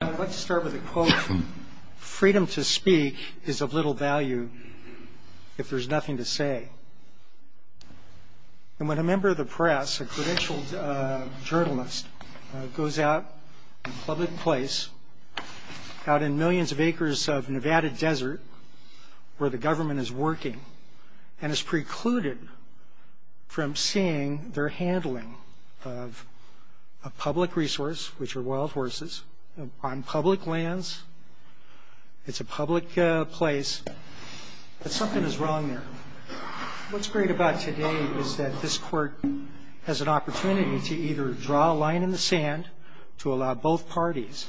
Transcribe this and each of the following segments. I'd like to start with a quote from Freedom to Speak is of little value if there's nothing to say. And when a member of the press, a credentialed journalist, goes out in a public place, out in millions of acres of Nevada desert where the government is working, and is precluded from seeing their handling of a public resource, which are wild horses, on public lands, it's a public place, then something is wrong there. What's great about today is that this court has an opportunity to either draw a line in the sand to allow both parties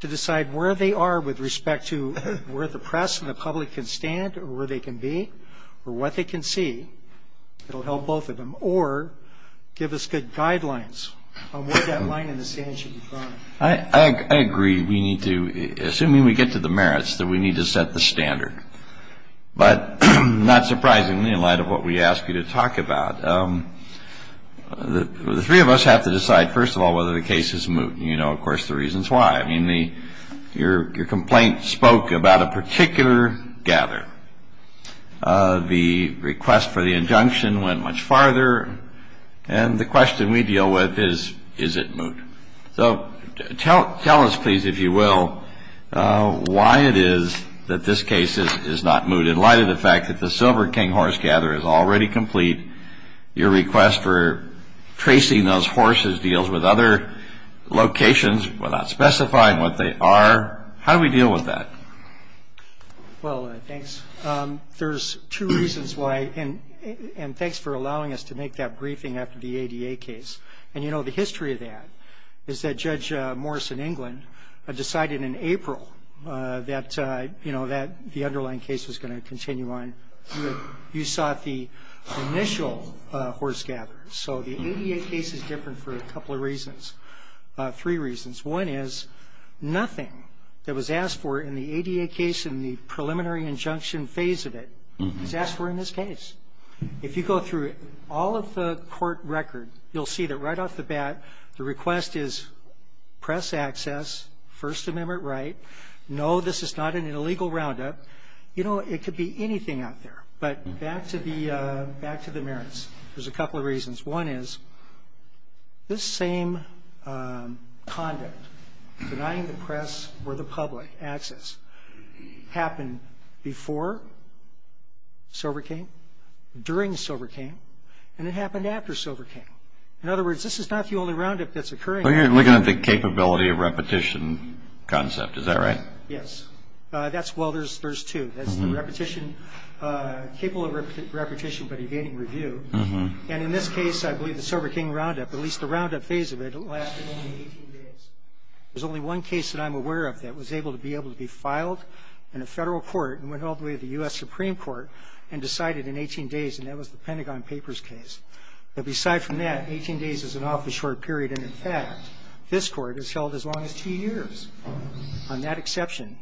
to decide where they are with respect to where the press and the public can stand or where they can be or what they can see. It'll help both of them or give us good guidelines on where that line in the sand should be drawn. I agree. We need to, assuming we get to the merits, that we need to set the standard. But not surprisingly, in light of what we asked you to talk about, the three of us have to decide, first of all, whether the case is moot. And you know, of course, the reasons why. I mean, your complaint spoke about a particular gather. The request for the injunction went much farther. And the question we deal with is, is it moot? So tell us, please, if you will, why it is that this case is not moot. In light of the fact that the Silver King horse gather is already complete, your request for tracing those horses deals with other locations without specifying what they are. How do we deal with that? Well, thanks. There's two reasons why. And thanks for allowing us to make that briefing after the ADA case. And you know, the history of that is that Judge Morris in England decided in April that, you know, So the ADA case is different for a couple of reasons, three reasons. One is nothing that was asked for in the ADA case in the preliminary injunction phase of it is asked for in this case. If you go through all of the court record, you'll see that right off the bat, the request is press access, First Amendment right. No, this is not an illegal roundup. You know, it could be anything out there. But back to the merits, there's a couple of reasons. One is this same conduct, denying the press or the public access, happened before Silver King, during Silver King, and it happened after Silver King. In other words, this is not the only roundup that's occurring. You're looking at the capability of repetition concept, is that right? Yes. That's well, there's two. That's the repetition, capable of repetition, but evading review. And in this case, I believe the Silver King roundup, at least the roundup phase of it, lasted only 18 days. There's only one case that I'm aware of that was able to be able to be filed in a federal court and went all the way to the U.S. Supreme Court and decided in 18 days, and that was the Pentagon Papers case. But aside from that, 18 days is an awfully short period. And in fact, this court has held as long as two years. On that exception,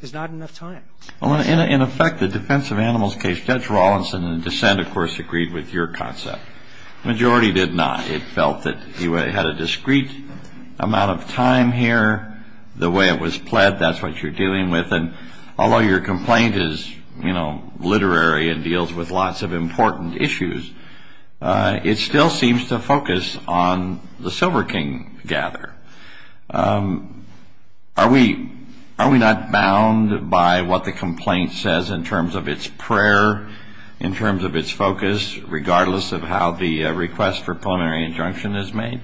there's not enough time. Well, in effect, the Defense of Animals case, Judge Rawlinson and the dissent, of course, agreed with your concept. The majority did not. It felt that you had a discrete amount of time here. The way it was pled, that's what you're dealing with. And although your complaint is, you know, literary and deals with lots of important issues, it still seems to focus on the Silver King gather. Are we not bound by what the complaint says in terms of its prayer, in terms of its focus, regardless of how the request for preliminary injunction is made?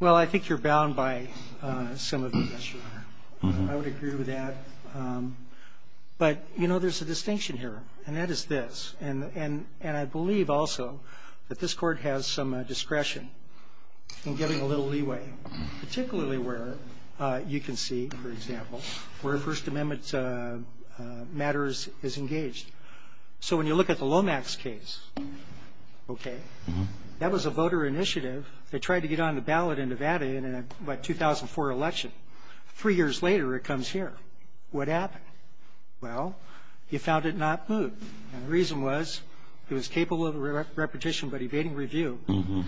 Well, I think you're bound by some of it, yes, Your Honor. I would agree with that. But, you know, there's a distinction here, and that is this. And I believe also that this court has some discretion in giving a little leeway, particularly where you can see, for example, where First Amendment matters is engaged. So when you look at the Lomax case, okay, that was a voter initiative. They tried to get on the ballot in Nevada in a, what, 2004 election. Three years later, it comes here. What happened? Well, you found it not moved. And the reason was it was capable of repetition but evading review.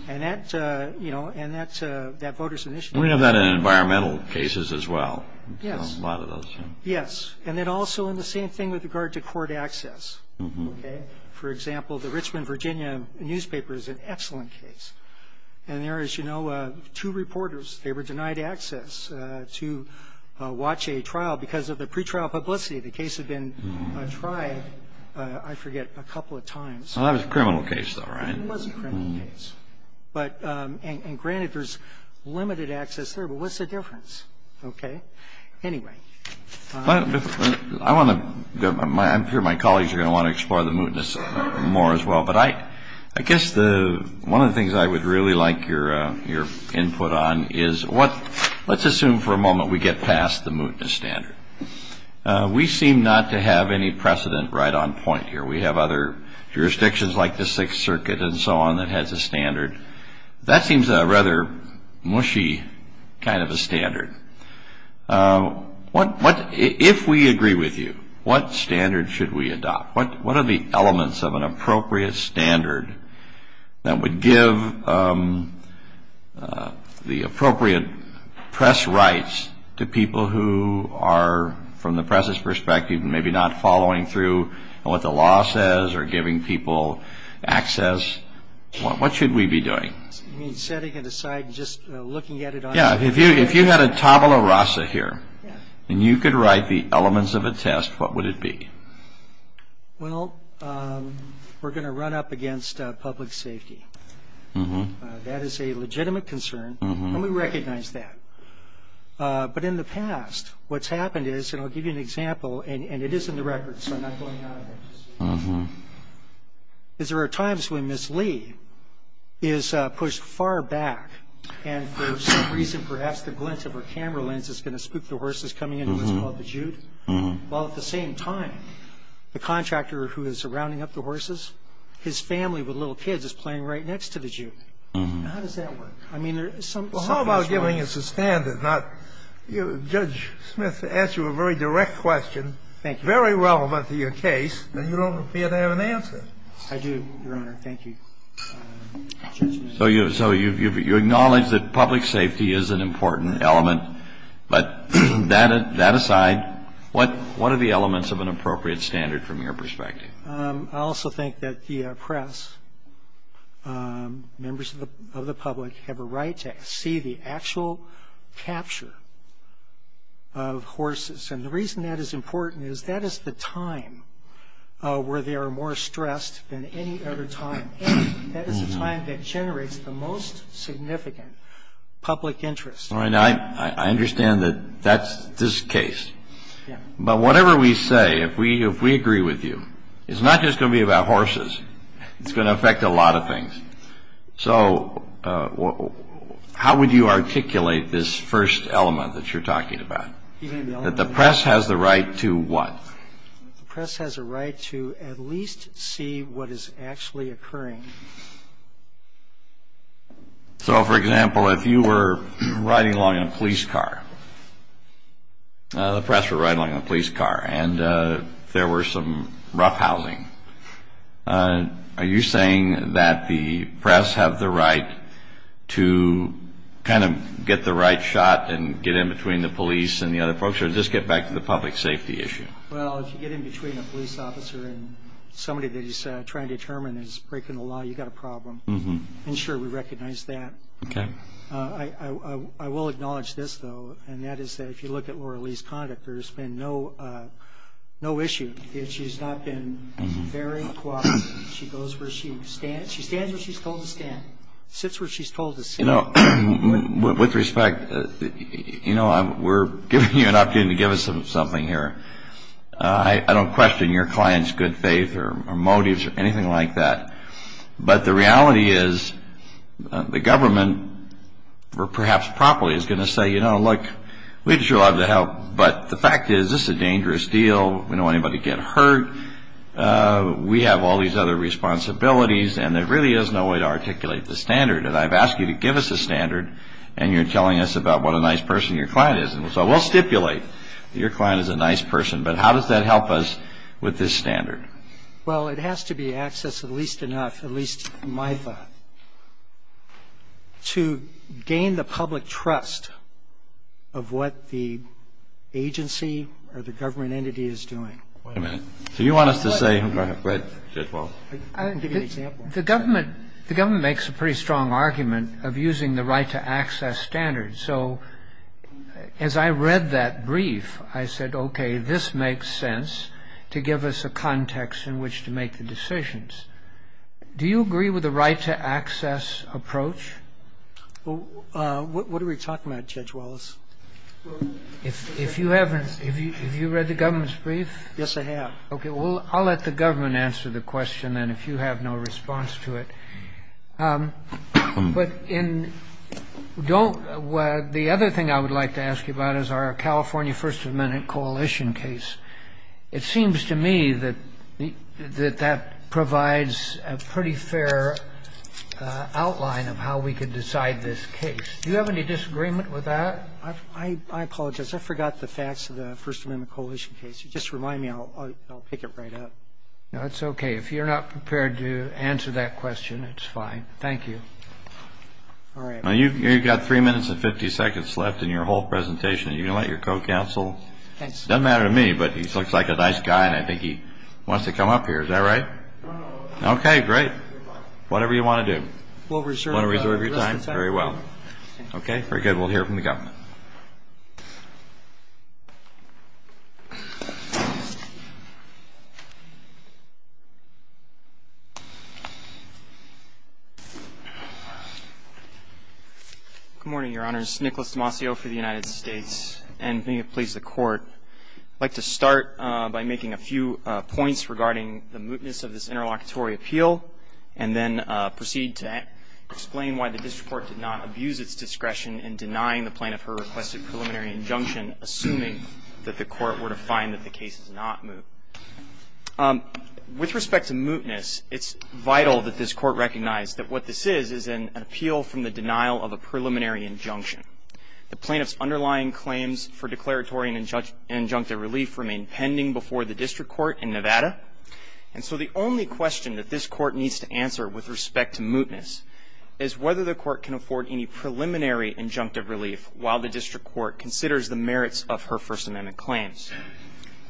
And that, you know, and that voter's initiative. We have that in environmental cases as well. Yes. A lot of those. Yes. And then also in the same thing with regard to court access, okay? For example, the Richmond, Virginia newspaper is an excellent case. And there is, you know, two reporters. They were denied access to watch a trial because of the pretrial publicity. The case had been tried, I forget, a couple of times. Well, that was a criminal case, though, right? It was a criminal case. But, and granted, there's limited access there. But what's the difference? Okay? Anyway. I want to, I'm sure my colleagues are going to want to explore the mootness more as well. But I guess one of the things I would really like your input on is what, let's assume for a moment we get past the mootness standard. We seem not to have any precedent right on point here. We have other jurisdictions like the Sixth Circuit and so on that has a standard. That seems a rather mushy kind of a standard. If we agree with you, what standard should we adopt? What are the elements of an appropriate standard that would give the appropriate press rights to people who are, from the press's perspective, maybe not following through on what the law says or giving people access? What should we be doing? You mean setting it aside and just looking at it on your own? Yeah. If you had a tabula rasa here and you could write the elements of a test, what would it be? Well, we're going to run up against public safety. That is a legitimate concern, and we recognize that. But in the past, what's happened is, and I'll give you an example, and it is in the record, so I'm not going out of it. But what's happened is, there are times when Ms. Lee is pushed far back, and for some reason, perhaps the glint of her camera lens is going to spook the horses coming into what's called the jute, while at the same time, the contractor who is rounding up the horses, his family with little kids is playing right next to the jute. How does that work? I mean, there's some things going on. Well, how about giving us a standard, not you know, Judge Smith asked you a very direct question. Thank you. If it's very relevant to your case, then you don't appear to have an answer. I do, Your Honor. Thank you. So you acknowledge that public safety is an important element. But that aside, what are the elements of an appropriate standard from your perspective? I also think that the press, members of the public, have a right to see the actual capture of horses. And the reason that is important is that is the time where they are more stressed than any other time. That is the time that generates the most significant public interest. I understand that that's this case. But whatever we say, if we agree with you, it's not just going to be about horses. It's going to affect a lot of things. So how would you articulate this first element that you're talking about? That the press has the right to what? The press has a right to at least see what is actually occurring. So, for example, if you were riding along in a police car, the press were riding along in a police car, and there were some roughhousing, are you saying that the press have the right to kind of get the right shot and get in between the police and the other folks or just get back to the public safety issue? Well, if you get in between a police officer and somebody that he's trying to determine is breaking the law, you've got a problem. I'm sure we recognize that. Okay. I will acknowledge this, though, and that is that if you look at Laura Lee's conduct, there's been no issue. She's not been very cooperative. She goes where she stands. She stands where she's told to stand. Sits where she's told to sit. You know, with respect, you know, we're giving you an opportunity to give us something here. I don't question your client's good faith or motives or anything like that, but the reality is the government, perhaps properly, is going to say, you know, look, we'd sure love to help, but the fact is this is a dangerous deal. We don't want anybody to get hurt. We have all these other responsibilities, and there really is no way to articulate the standard, and I've asked you to give us a standard, and you're telling us about what a nice person your client is, and so we'll stipulate that your client is a nice person, but how does that help us with this standard? Well, it has to be accessed at least enough, at least in my thought, to gain the public trust of what the agency or the government entity is doing. Wait a minute. So you want us to say go ahead. I didn't give you an example. The government makes a pretty strong argument of using the right-to-access standard, so as I read that brief, I said, okay, this makes sense to give us a context in which to make the decisions. Do you agree with the right-to-access approach? What are we talking about, Judge Wallace? If you haven't, have you read the government's brief? Yes, I have. Okay, well, I'll let the government answer the question, then, if you have no response to it. But the other thing I would like to ask you about is our California First Amendment coalition case. It seems to me that that provides a pretty fair outline of how we could decide this case. Do you have any disagreement with that? I apologize. I forgot the facts of the First Amendment coalition case. Just remind me, and I'll pick it right up. No, it's okay. If you're not prepared to answer that question, it's fine. Thank you. All right. You've got three minutes and 50 seconds left in your whole presentation. Are you going to let your co-counsel? It doesn't matter to me, but he looks like a nice guy, and I think he wants to come up here. Is that right? Okay, great. Whatever you want to do. We'll reserve your time. Very well. Okay, very good. We'll hear from the government. Good morning, Your Honors. Nicholas Demasio for the United States, and may it please the Court, I'd like to start by making a few points regarding the mootness of this interlocutory appeal and then proceed to explain why the district court did not abuse its discretion in denying the plaintiff her requested preliminary injunction, assuming that the court were to find that the case is not moot. With respect to mootness, it's vital that this court recognize that what this is is an appeal from the denial of a preliminary injunction. The plaintiff's underlying claims for declaratory and injunctive relief remain pending before the district court in Nevada, and so the only question that this court needs to answer with respect to mootness is whether the court can afford any preliminary injunctive relief while the district court considers the merits of her First Amendment claims.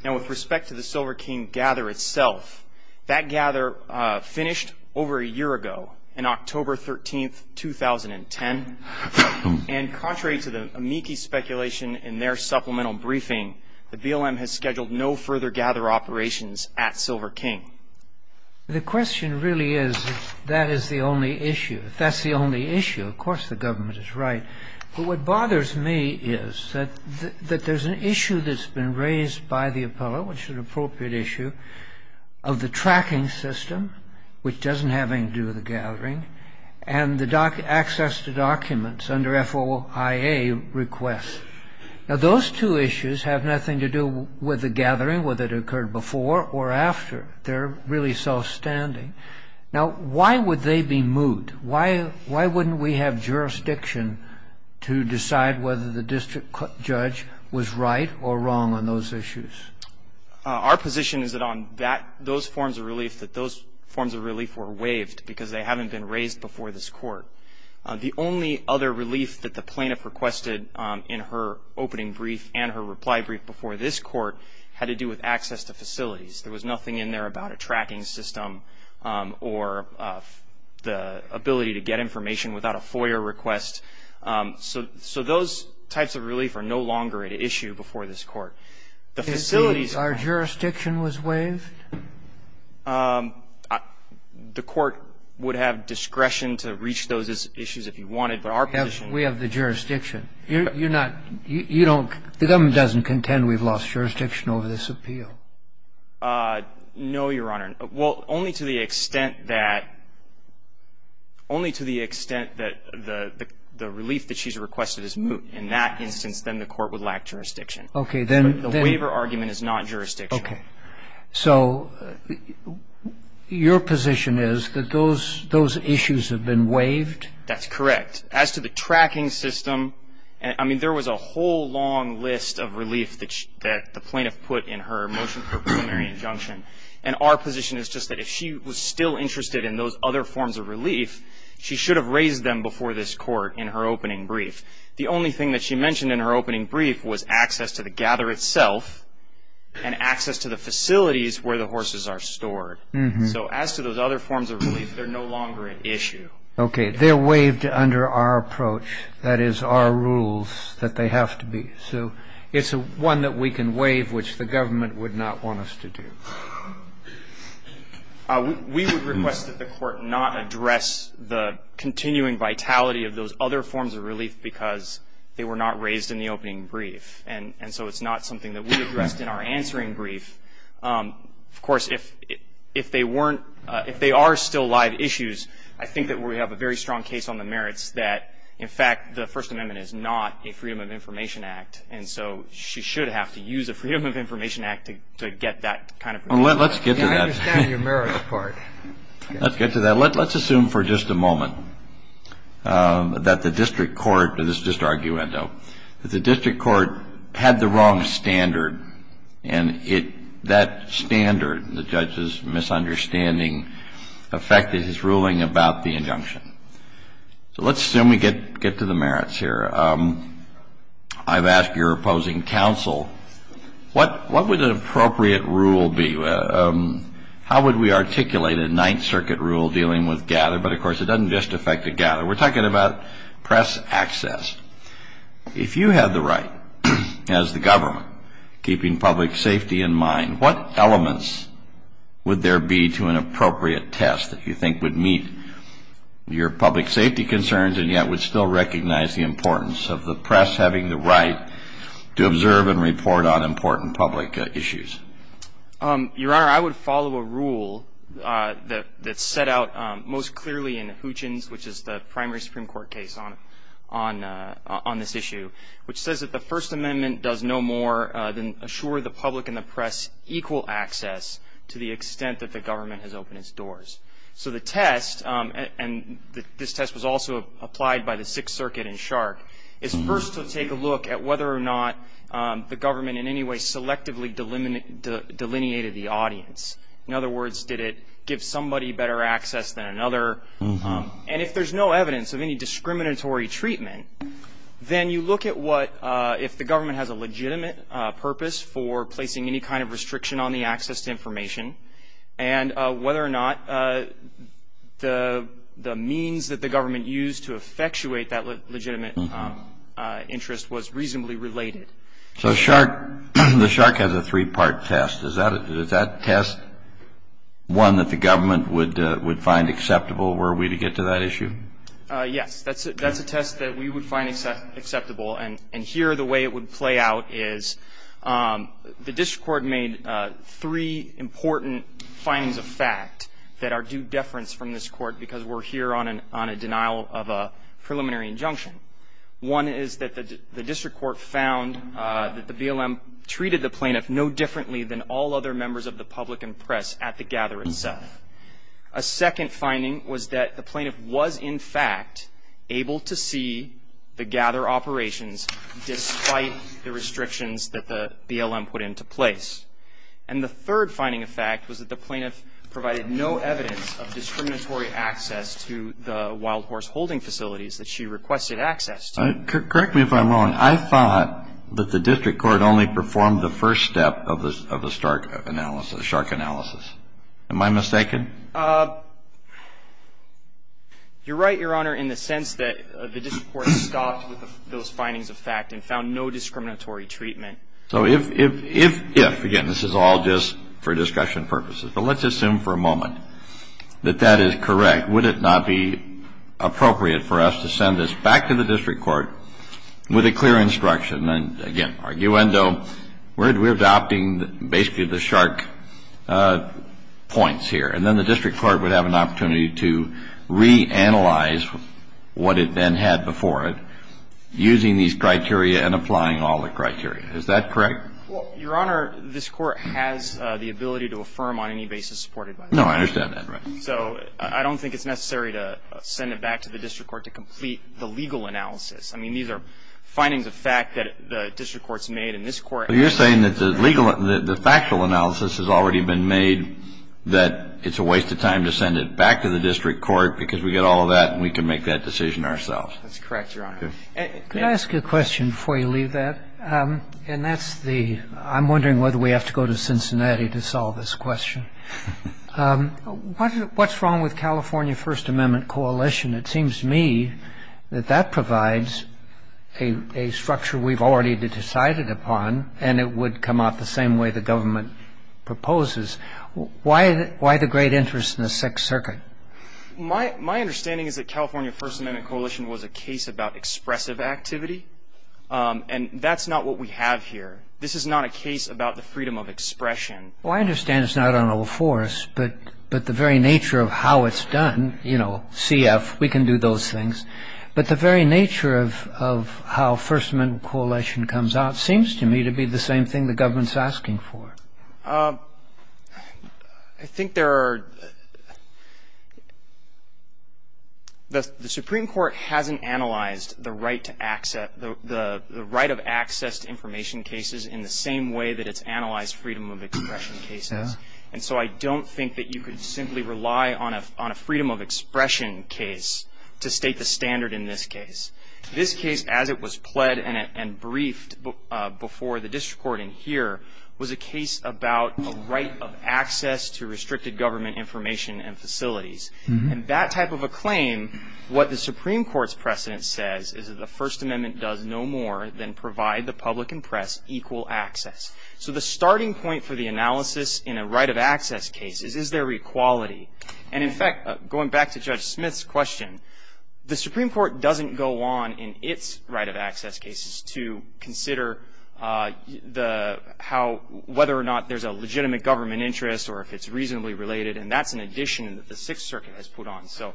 Now, with respect to the Silver King Gather itself, that gather finished over a year ago, on October 13, 2010, and contrary to the amici speculation in their supplemental briefing, the BLM has scheduled no further gather operations at Silver King. The question really is if that is the only issue. If that's the only issue, of course the government is right. But what bothers me is that there's an issue that's been raised by the appellate, which is an appropriate issue, of the tracking system, which doesn't have anything to do with the gathering, and the access to documents under FOIA requests. Now, those two issues have nothing to do with the gathering, whether it occurred before or after. They're really self-standing. Now, why would they be moot? Why wouldn't we have jurisdiction to decide whether the district judge was right or wrong on those issues? Our position is that on those forms of relief, that those forms of relief were waived because they haven't been raised before this court. The only other relief that the plaintiff requested in her opening brief and her reply brief before this court had to do with access to facilities. There was nothing in there about a tracking system or the ability to get information without a FOIA request. So those types of relief are no longer at issue before this court. The facilities are... Our jurisdiction was waived? The court would have discretion to reach those issues if you wanted, but our position... We have the jurisdiction. You're not – you don't – the government doesn't contend we've lost jurisdiction over this appeal. No, Your Honor. Well, only to the extent that – only to the extent that the relief that she's requested is moot. In that instance, then the court would lack jurisdiction. Okay. The waiver argument is not jurisdiction. Okay. So your position is that those issues have been waived? That's correct. As to the tracking system, I mean, there was a whole long list of relief that the plaintiff put in her motion for preliminary injunction, and our position is just that if she was still interested in those other forms of relief, she should have raised them before this court in her opening brief. The only thing that she mentioned in her opening brief was access to the gather itself and access to the facilities where the horses are stored. So as to those other forms of relief, they're no longer an issue. Okay. They're waived under our approach. That is our rules that they have to be. So it's one that we can waive, which the government would not want us to do. We would request that the court not address the continuing vitality of those other forms of relief because they were not raised in the opening brief. And so it's not something that we addressed in our answering brief. Of course, if they weren't, if they are still live issues, I think that we have a very strong case on the merits that, in fact, the First Amendment is not a Freedom of Information Act, and so she should have to use a Freedom of Information Act to get that kind of relief. Let's get to that. I understand your merits part. Let's get to that. So let's assume for just a moment that the district court, and this is just arguendo, that the district court had the wrong standard, and that standard, the judge's misunderstanding affected his ruling about the injunction. So let's assume we get to the merits here. I've asked your opposing counsel, what would an appropriate rule be? How would we articulate a Ninth Circuit rule dealing with gather? But, of course, it doesn't just affect the gather. We're talking about press access. If you had the right as the government, keeping public safety in mind, what elements would there be to an appropriate test that you think would meet your public safety concerns and yet would still recognize the importance of the press having the right to observe and report on important public issues? Your Honor, I would follow a rule that's set out most clearly in Hoochins, which is the primary Supreme Court case on this issue, which says that the First Amendment does no more than assure the public and the press equal access to the extent that the government has opened its doors. So the test, and this test was also applied by the Sixth Circuit in Shark, is first to take a look at whether or not the government in any way selectively delineated the audience. In other words, did it give somebody better access than another? And if there's no evidence of any discriminatory treatment, then you look at if the government has a legitimate purpose for placing any kind of restriction on the access to information and whether or not the means that the government used to effectuate that legitimate interest was reasonably related. So Shark, the Shark has a three-part test. Is that test one that the government would find acceptable were we to get to that issue? Yes, that's a test that we would find acceptable. And here, the way it would play out is the district court made three important findings of fact that are due deference from this court because we're here on a denial of a preliminary injunction. One is that the district court found that the BLM treated the plaintiff no differently than all other members of the public and press at the gather itself. A second finding was that the plaintiff was in fact able to see the gather operations despite the restrictions that the BLM put into place. And the third finding of fact was that the plaintiff provided no evidence of discriminatory access to the wild horse holding facilities that she requested access to. Correct me if I'm wrong. I thought that the district court only performed the first step of the Shark analysis. Am I mistaken? You're right, Your Honor, in the sense that the district court stopped with those findings of fact and found no discriminatory treatment. So if, again, this is all just for discussion purposes, but let's assume for a moment that that is correct, would it not be appropriate for us to send this back to the district court with a clear instruction, and then, again, arguendo, we're adopting basically the Shark points here, and then the district court would have an opportunity to reanalyze what it then had before it, using these criteria and applying all the criteria. Is that correct? Well, Your Honor, this court has the ability to affirm on any basis supported by the district court. No, I understand that. So I don't think it's necessary to send it back to the district court to complete the legal analysis. I mean, these are findings of fact that the district court has made, and this court has made. You're saying that the factual analysis has already been made, that it's a waste of time to send it back to the district court because we get all of that and we can make that decision ourselves. That's correct, Your Honor. Could I ask you a question before you leave that? And that's the — I'm wondering whether we have to go to Cincinnati to solve this question. What's wrong with California First Amendment Coalition? It seems to me that that provides a structure we've already decided upon, and it would come out the same way the government proposes. Why the great interest in the Sixth Circuit? My understanding is that California First Amendment Coalition was a case about expressive activity, and that's not what we have here. This is not a case about the freedom of expression. Well, I understand it's not on all fours, but the very nature of how it's done, you know, CF, we can do those things, but the very nature of how First Amendment Coalition comes out seems to me to be the same thing the government's asking for. I think there are — the Supreme Court hasn't analyzed the right of access to information cases in the same way that it's analyzed freedom of expression cases. And so I don't think that you could simply rely on a freedom of expression case to state the standard in this case. This case, as it was pled and briefed before the district court in here, was a case about a right of access to restricted government information and facilities. And that type of a claim, what the Supreme Court's precedent says, is that the First Amendment does no more than provide the public and press equal access. So the starting point for the analysis in a right of access case is, is there equality? And, in fact, going back to Judge Smith's question, the Supreme Court doesn't go on in its right of access cases to consider how — whether or not there's a legitimate government interest or if it's reasonably related, and that's an addition that the Sixth Circuit has put on. So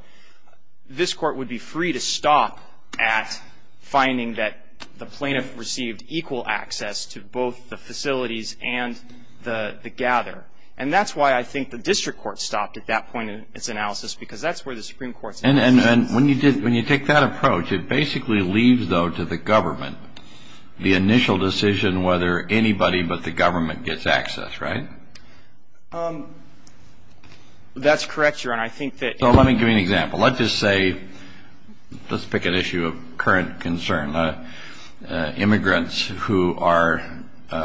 this Court would be free to stop at finding that the plaintiff received equal access to both the facilities and the gather. And that's why I think the district court stopped at that point in its analysis, because that's where the Supreme Court's analysis is. And when you take that approach, it basically leaves, though, to the government, the initial decision whether anybody but the government gets access, right? That's correct, Your Honor. I think that — So let me give you an example. Let's just say — let's pick an issue of current concern. Immigrants who are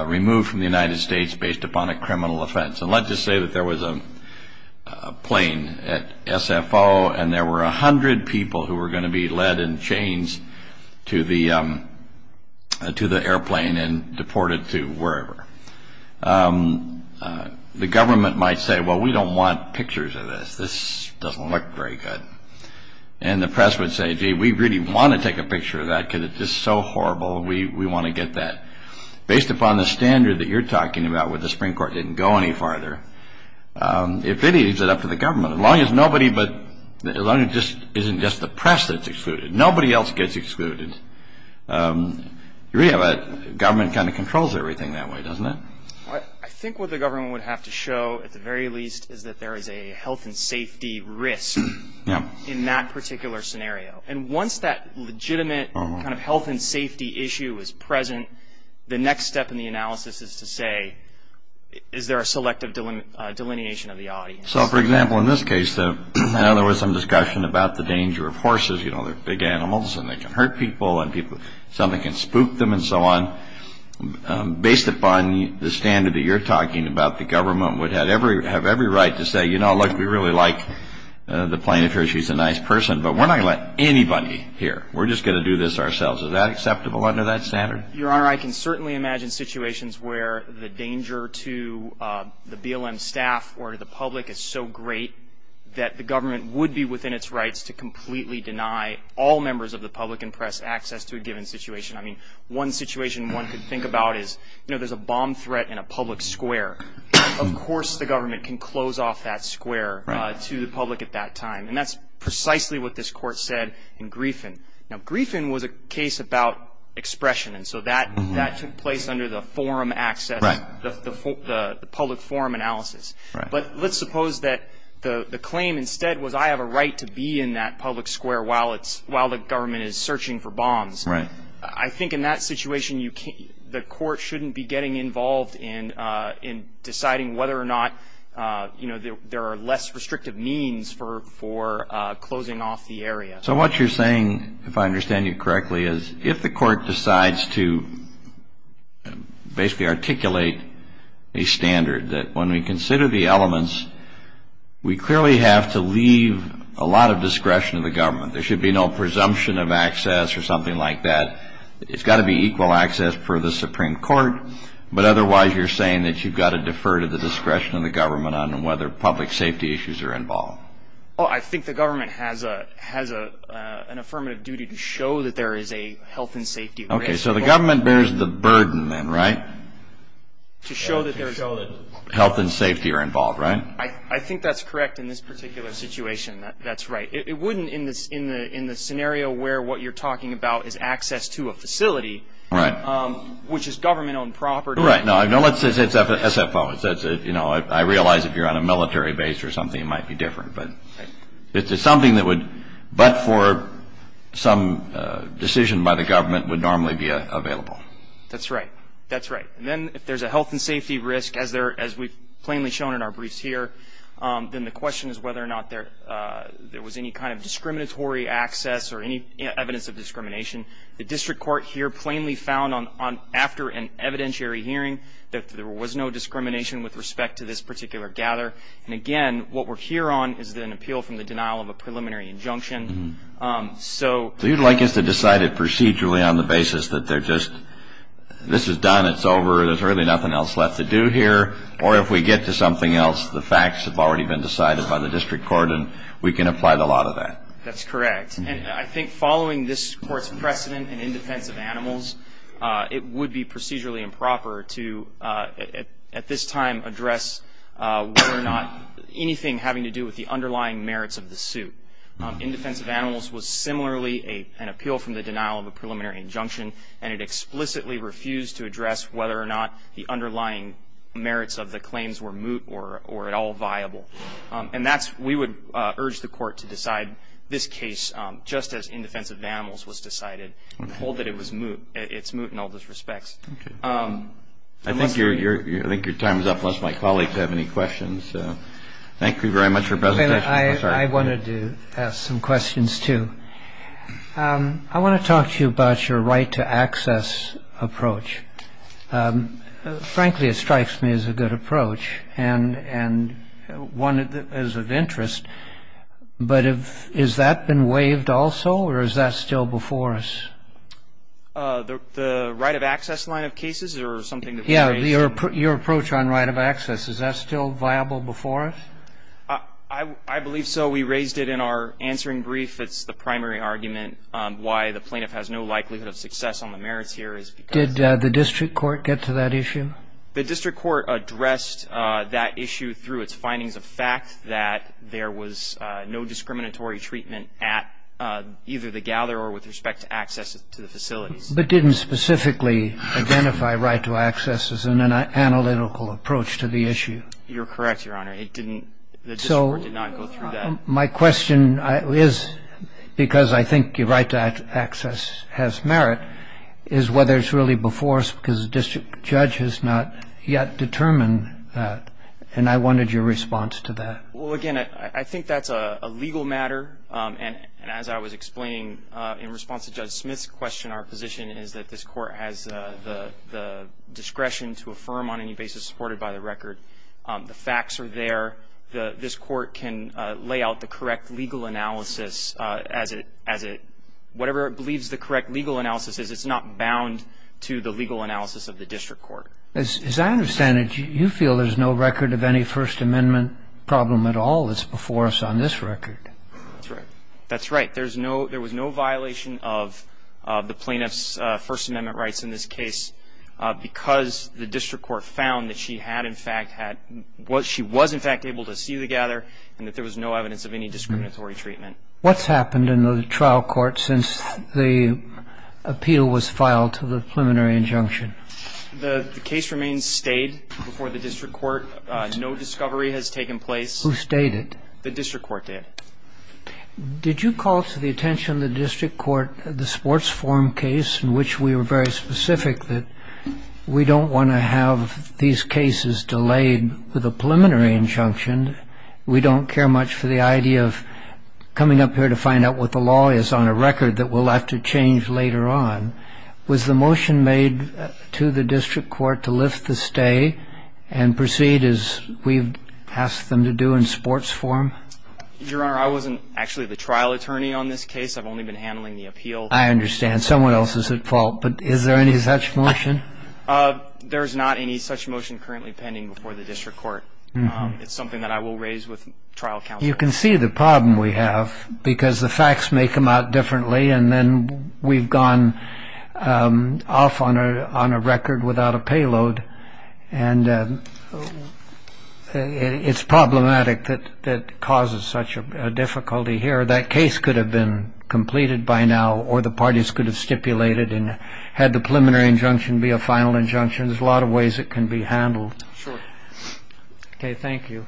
removed from the United States based upon a criminal offense. And let's just say that there was a plane at SFO, and there were 100 people who were going to be led in chains to the airplane and deported to wherever. The government might say, well, we don't want pictures of this. This doesn't look very good. And the press would say, gee, we really want to take a picture of that because it's just so horrible. We want to get that. Based upon the standard that you're talking about where the Supreme Court didn't go any farther, it really leaves it up to the government. As long as nobody but — as long as it isn't just the press that's excluded. Nobody else gets excluded. The government kind of controls everything that way, doesn't it? I think what the government would have to show, at the very least, is that there is a health and safety risk in that particular scenario. And once that legitimate kind of health and safety issue is present, the next step in the analysis is to say, is there a selective delineation of the audience? So, for example, in this case, there was some discussion about the danger of horses. You know, they're big animals and they can hurt people and something can spook them and so on. Based upon the standard that you're talking about, the government would have every right to say, you know, look, we really like the plaintiff here. She's a nice person. But we're not going to let anybody hear. We're just going to do this ourselves. Is that acceptable under that standard? Your Honor, I can certainly imagine situations where the danger to the BLM staff or to the public is so great that the government would be within its rights to completely deny all members of the public and press access to a given situation. I mean, one situation one could think about is, you know, there's a bomb threat in a public square. Of course the government can close off that square to the public at that time. And that's precisely what this Court said in Griefen. Now, Griefen was a case about expression. And so that took place under the forum access, the public forum analysis. But let's suppose that the claim instead was I have a right to be in that public square while the government is searching for bombs. I think in that situation the court shouldn't be getting involved in deciding whether or not, you know, there are less restrictive means for closing off the area. So what you're saying, if I understand you correctly, is if the court decides to basically articulate a standard that when we consider the elements, we clearly have to leave a lot of discretion to the government. There should be no presumption of access or something like that. It's got to be equal access for the Supreme Court. But otherwise you're saying that you've got to defer to the discretion of the government on whether public safety issues are involved. Well, I think the government has an affirmative duty to show that there is a health and safety risk. Okay. So the government bears the burden then, right, to show that health and safety are involved, right? I think that's correct in this particular situation. That's right. It wouldn't in the scenario where what you're talking about is access to a facility, which is government-owned property. Right. No, let's say it's SFO. I realize if you're on a military base or something it might be different. But it's something that would, but for some decision by the government, would normally be available. That's right. That's right. And then if there's a health and safety risk, as we've plainly shown in our briefs here, then the question is whether or not there was any kind of discriminatory access or any evidence of discrimination. The district court here plainly found after an evidentiary hearing that there was no discrimination with respect to this particular gather. And, again, what we're here on is an appeal from the denial of a preliminary injunction. So you'd like us to decide it procedurally on the basis that they're just, this is done, it's over, there's really nothing else left to do here. Or if we get to something else, the facts have already been decided by the district court and we can apply the law to that. That's correct. And I think following this Court's precedent in indefensive animals, it would be procedurally improper to, at this time, address whether or not anything having to do with the underlying merits of the suit. Indefensive animals was similarly an appeal from the denial of a preliminary injunction and it explicitly refused to address whether or not the underlying merits of the claims were moot or at all viable. And that's, we would urge the Court to decide this case just as indefensive animals was decided and hold that it was moot, it's moot in all those respects. I think your time is up unless my colleagues have any questions. Thank you very much for your presentation. I wanted to ask some questions, too. I want to talk to you about your right to access approach. Frankly, it strikes me as a good approach and one that is of interest, but is that been waived also or is that still before us? The right of access line of cases or something that we raised? Yes, your approach on right of access. Is that still viable before us? I believe so. We raised it in our answering brief. It's the primary argument why the plaintiff has no likelihood of success on the merits here. Did the district court get to that issue? The district court addressed that issue through its findings of fact that there was no discriminatory treatment at either the gatherer or with respect to access to the facilities. But didn't specifically identify right to access as an analytical approach to the issue? You're correct, Your Honor. It didn't, the district court did not go through that. My question is, because I think your right to access has merit, is whether it's really before us because the district judge has not yet determined that. And I wanted your response to that. Well, again, I think that's a legal matter. And as I was explaining in response to Judge Smith's question, our position is that this court has the discretion to affirm on any basis supported by the record. The facts are there. This court can lay out the correct legal analysis as it, whatever it believes the correct legal analysis is, it's not bound to the legal analysis of the district court. As I understand it, you feel there's no record of any First Amendment problem at all that's before us on this record. That's right. That's right. There's no, there was no violation of the plaintiff's First Amendment rights in this case because the district court found that she had in fact had, she was in fact able to see the gather and that there was no evidence of any discriminatory treatment. What's happened in the trial court since the appeal was filed to the preliminary injunction? The case remains stayed before the district court. No discovery has taken place. Who stayed it? The district court did. Did you call to the attention of the district court the sports forum case in which we were very specific that we don't want to have these cases delayed with a preliminary injunction. We don't care much for the idea of coming up here to find out what the law is on a record that we'll have to change later on. Was the motion made to the district court to lift the stay and proceed as we've asked them to do in sports forum? Your Honor, I wasn't actually the trial attorney on this case. I've only been handling the appeal. I understand. Someone else is at fault. But is there any such motion? There's not any such motion currently pending before the district court. It's something that I will raise with trial counsel. You can see the problem we have because the facts may come out differently and then we've gone off on a record without a payload. And it's problematic that it causes such a difficulty here. That case could have been completed by now or the parties could have stipulated and had the preliminary injunction be a final injunction, there's a lot of ways it can be handled. Sure. Okay. Thank you.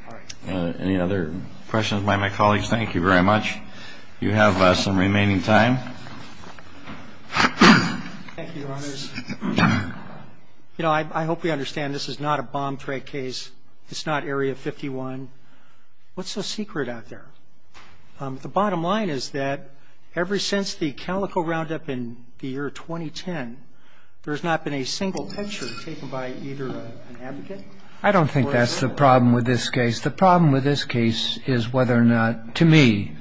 Any other questions by my colleagues? Thank you very much. You have some remaining time. Thank you, Your Honors. You know, I hope we understand this is not a bomb threat case. It's not Area 51. What's the secret out there? The bottom line is that ever since the Calico roundup in the year 2010, there's not been a single picture taken by either an advocate. I don't think that's the problem with this case. The problem with this case is whether or not, to me,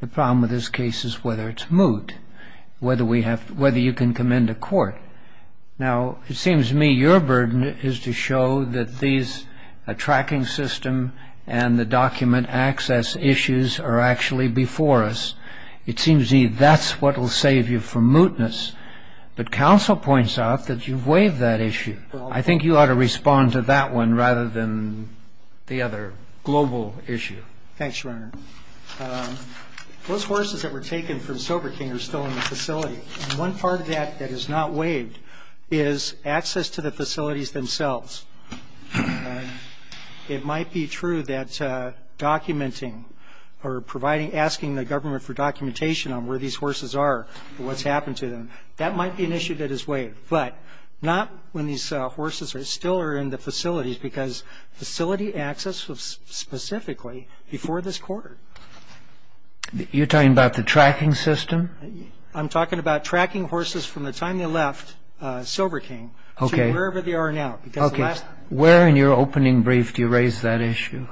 the problem with this case is whether it's moot, whether you can come into court. Now, it seems to me your burden is to show that these, a tracking system and the document access issues are actually before us. It seems to me that's what will save you from mootness. But counsel points out that you've waived that issue. I think you ought to respond to that one rather than the other global issue. Thanks, Your Honor. Those horses that were taken from Soberking are still in the facility. One part of that that is not waived is access to the facilities themselves. It might be true that documenting or asking the government for documentation on where these horses are and what's happened to them, that might be an issue that is waived, but not when these horses still are in the facilities because facility access was specifically before this quarter. You're talking about the tracking system? I'm talking about tracking horses from the time they left Soberking to wherever they are now. Okay. Where in your opening brief do you raise that issue?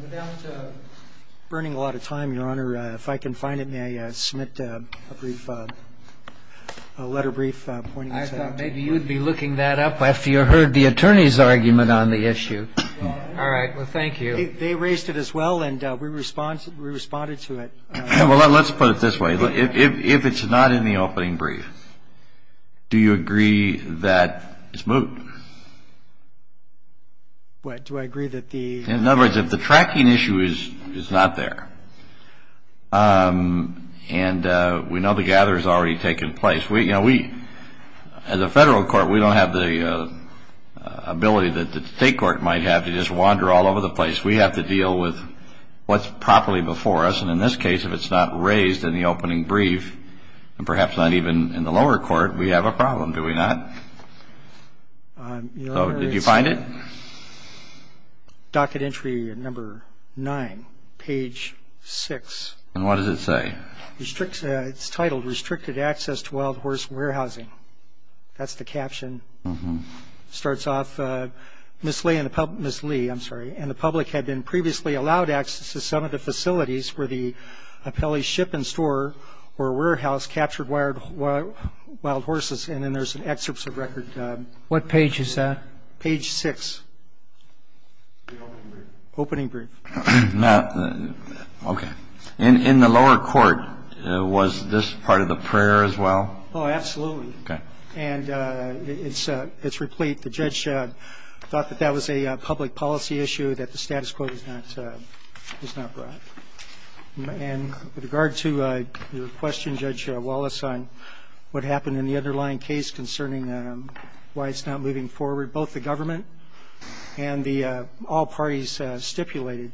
We're down to burning a lot of time, Your Honor. If I can find it, may I submit a brief letter brief pointing us out? I thought maybe you would be looking that up after you heard the attorney's argument on the issue. All right. Well, thank you. They raised it as well, and we responded to it. Well, let's put it this way. If it's not in the opening brief, do you agree that it's moved? Do I agree that the... In other words, if the tracking issue is not there, and we know the gatherer has already taken place, we, as a federal court, we don't have the ability that the state court might have to just wander all over the place. We have to deal with what's properly before us. And in this case, if it's not raised in the opening brief, and perhaps not even in the lower court, we have a problem, do we not? So did you find it? Docket entry number nine, page six. And what does it say? It's titled, Restricted Access to Wild Horse Warehousing. That's the caption. It starts off, Ms. Lee, I'm sorry. And the public had been previously allowed access to some of the facilities where the appellee's ship and store or warehouse captured wild horses. And then there's excerpts of record. What page is that? Page six. The opening brief. Opening brief. Okay. In the lower court, was this part of the prayer as well? Oh, absolutely. Okay. And it's replete. The judge thought that that was a public policy issue that the status quo was not brought. And with regard to your question, Judge Wallace, on what happened in the underlying case concerning why it's not moving forward, both the government and the all parties stipulated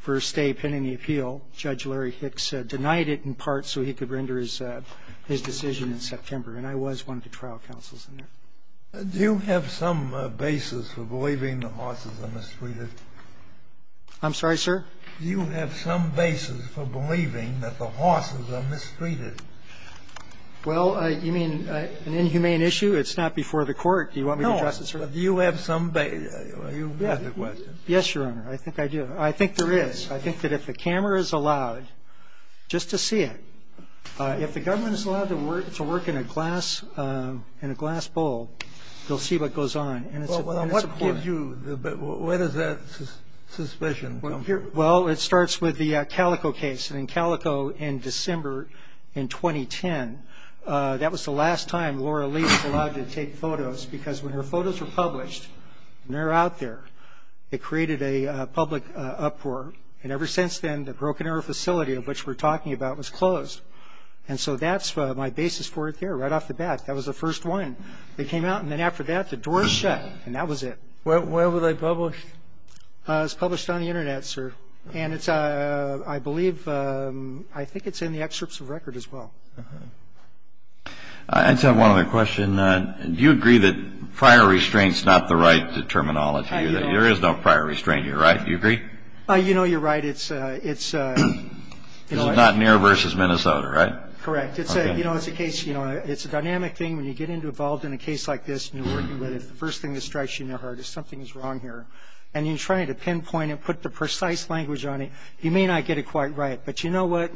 for a stay pending the appeal, Judge Larry Hicks denied it in part so he could render his decision in September. And I was one of the trial counsels in there. Do you have some basis for believing the horses are mistreated? I'm sorry, sir? Do you have some basis for believing that the horses are mistreated? Well, you mean an inhumane issue? It's not before the court. Do you want me to address it, sir? No. Do you have some basis? You asked the question. Yes, Your Honor. I think I do. I think there is. I think that if the camera is allowed just to see it, if the government is allowed to work in a glass bowl, you'll see what goes on. And it's important. Well, what gives you the – where does that suspicion come from? Well, it starts with the Calico case. And in Calico in December in 2010, that was the last time Laura Lee was allowed to take photos because when her photos were published and they were out there, it created a public uproar. And ever since then, the Broken Arrow facility, of which we're talking about, was closed. And so that's my basis for it there, right off the bat. That was the first one. They came out, and then after that, the doors shut, and that was it. Where were they published? It was published on the Internet, sir. And it's – I believe – I think it's in the excerpts of record as well. I just have one other question. Do you agree that prior restraint is not the right terminology? There is no prior restraint here, right? You agree? You know, you're right. It's – It's not Neer v. Minnesota, right? Correct. You know, it's a case – you know, it's a dynamic thing. When you get involved in a case like this and you're working with it, the first thing that strikes you in your heart is something is wrong here. And you try to pinpoint it, put the precise language on it. You may not get it quite right. But you know what?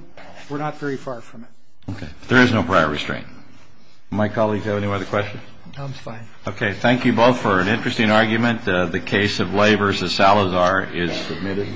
We're not very far from it. Okay. There is no prior restraint. My colleagues, do you have any other questions? No, I'm fine. Okay. Thank you both for an interesting argument. The case of Lay v. Salazar is submitted.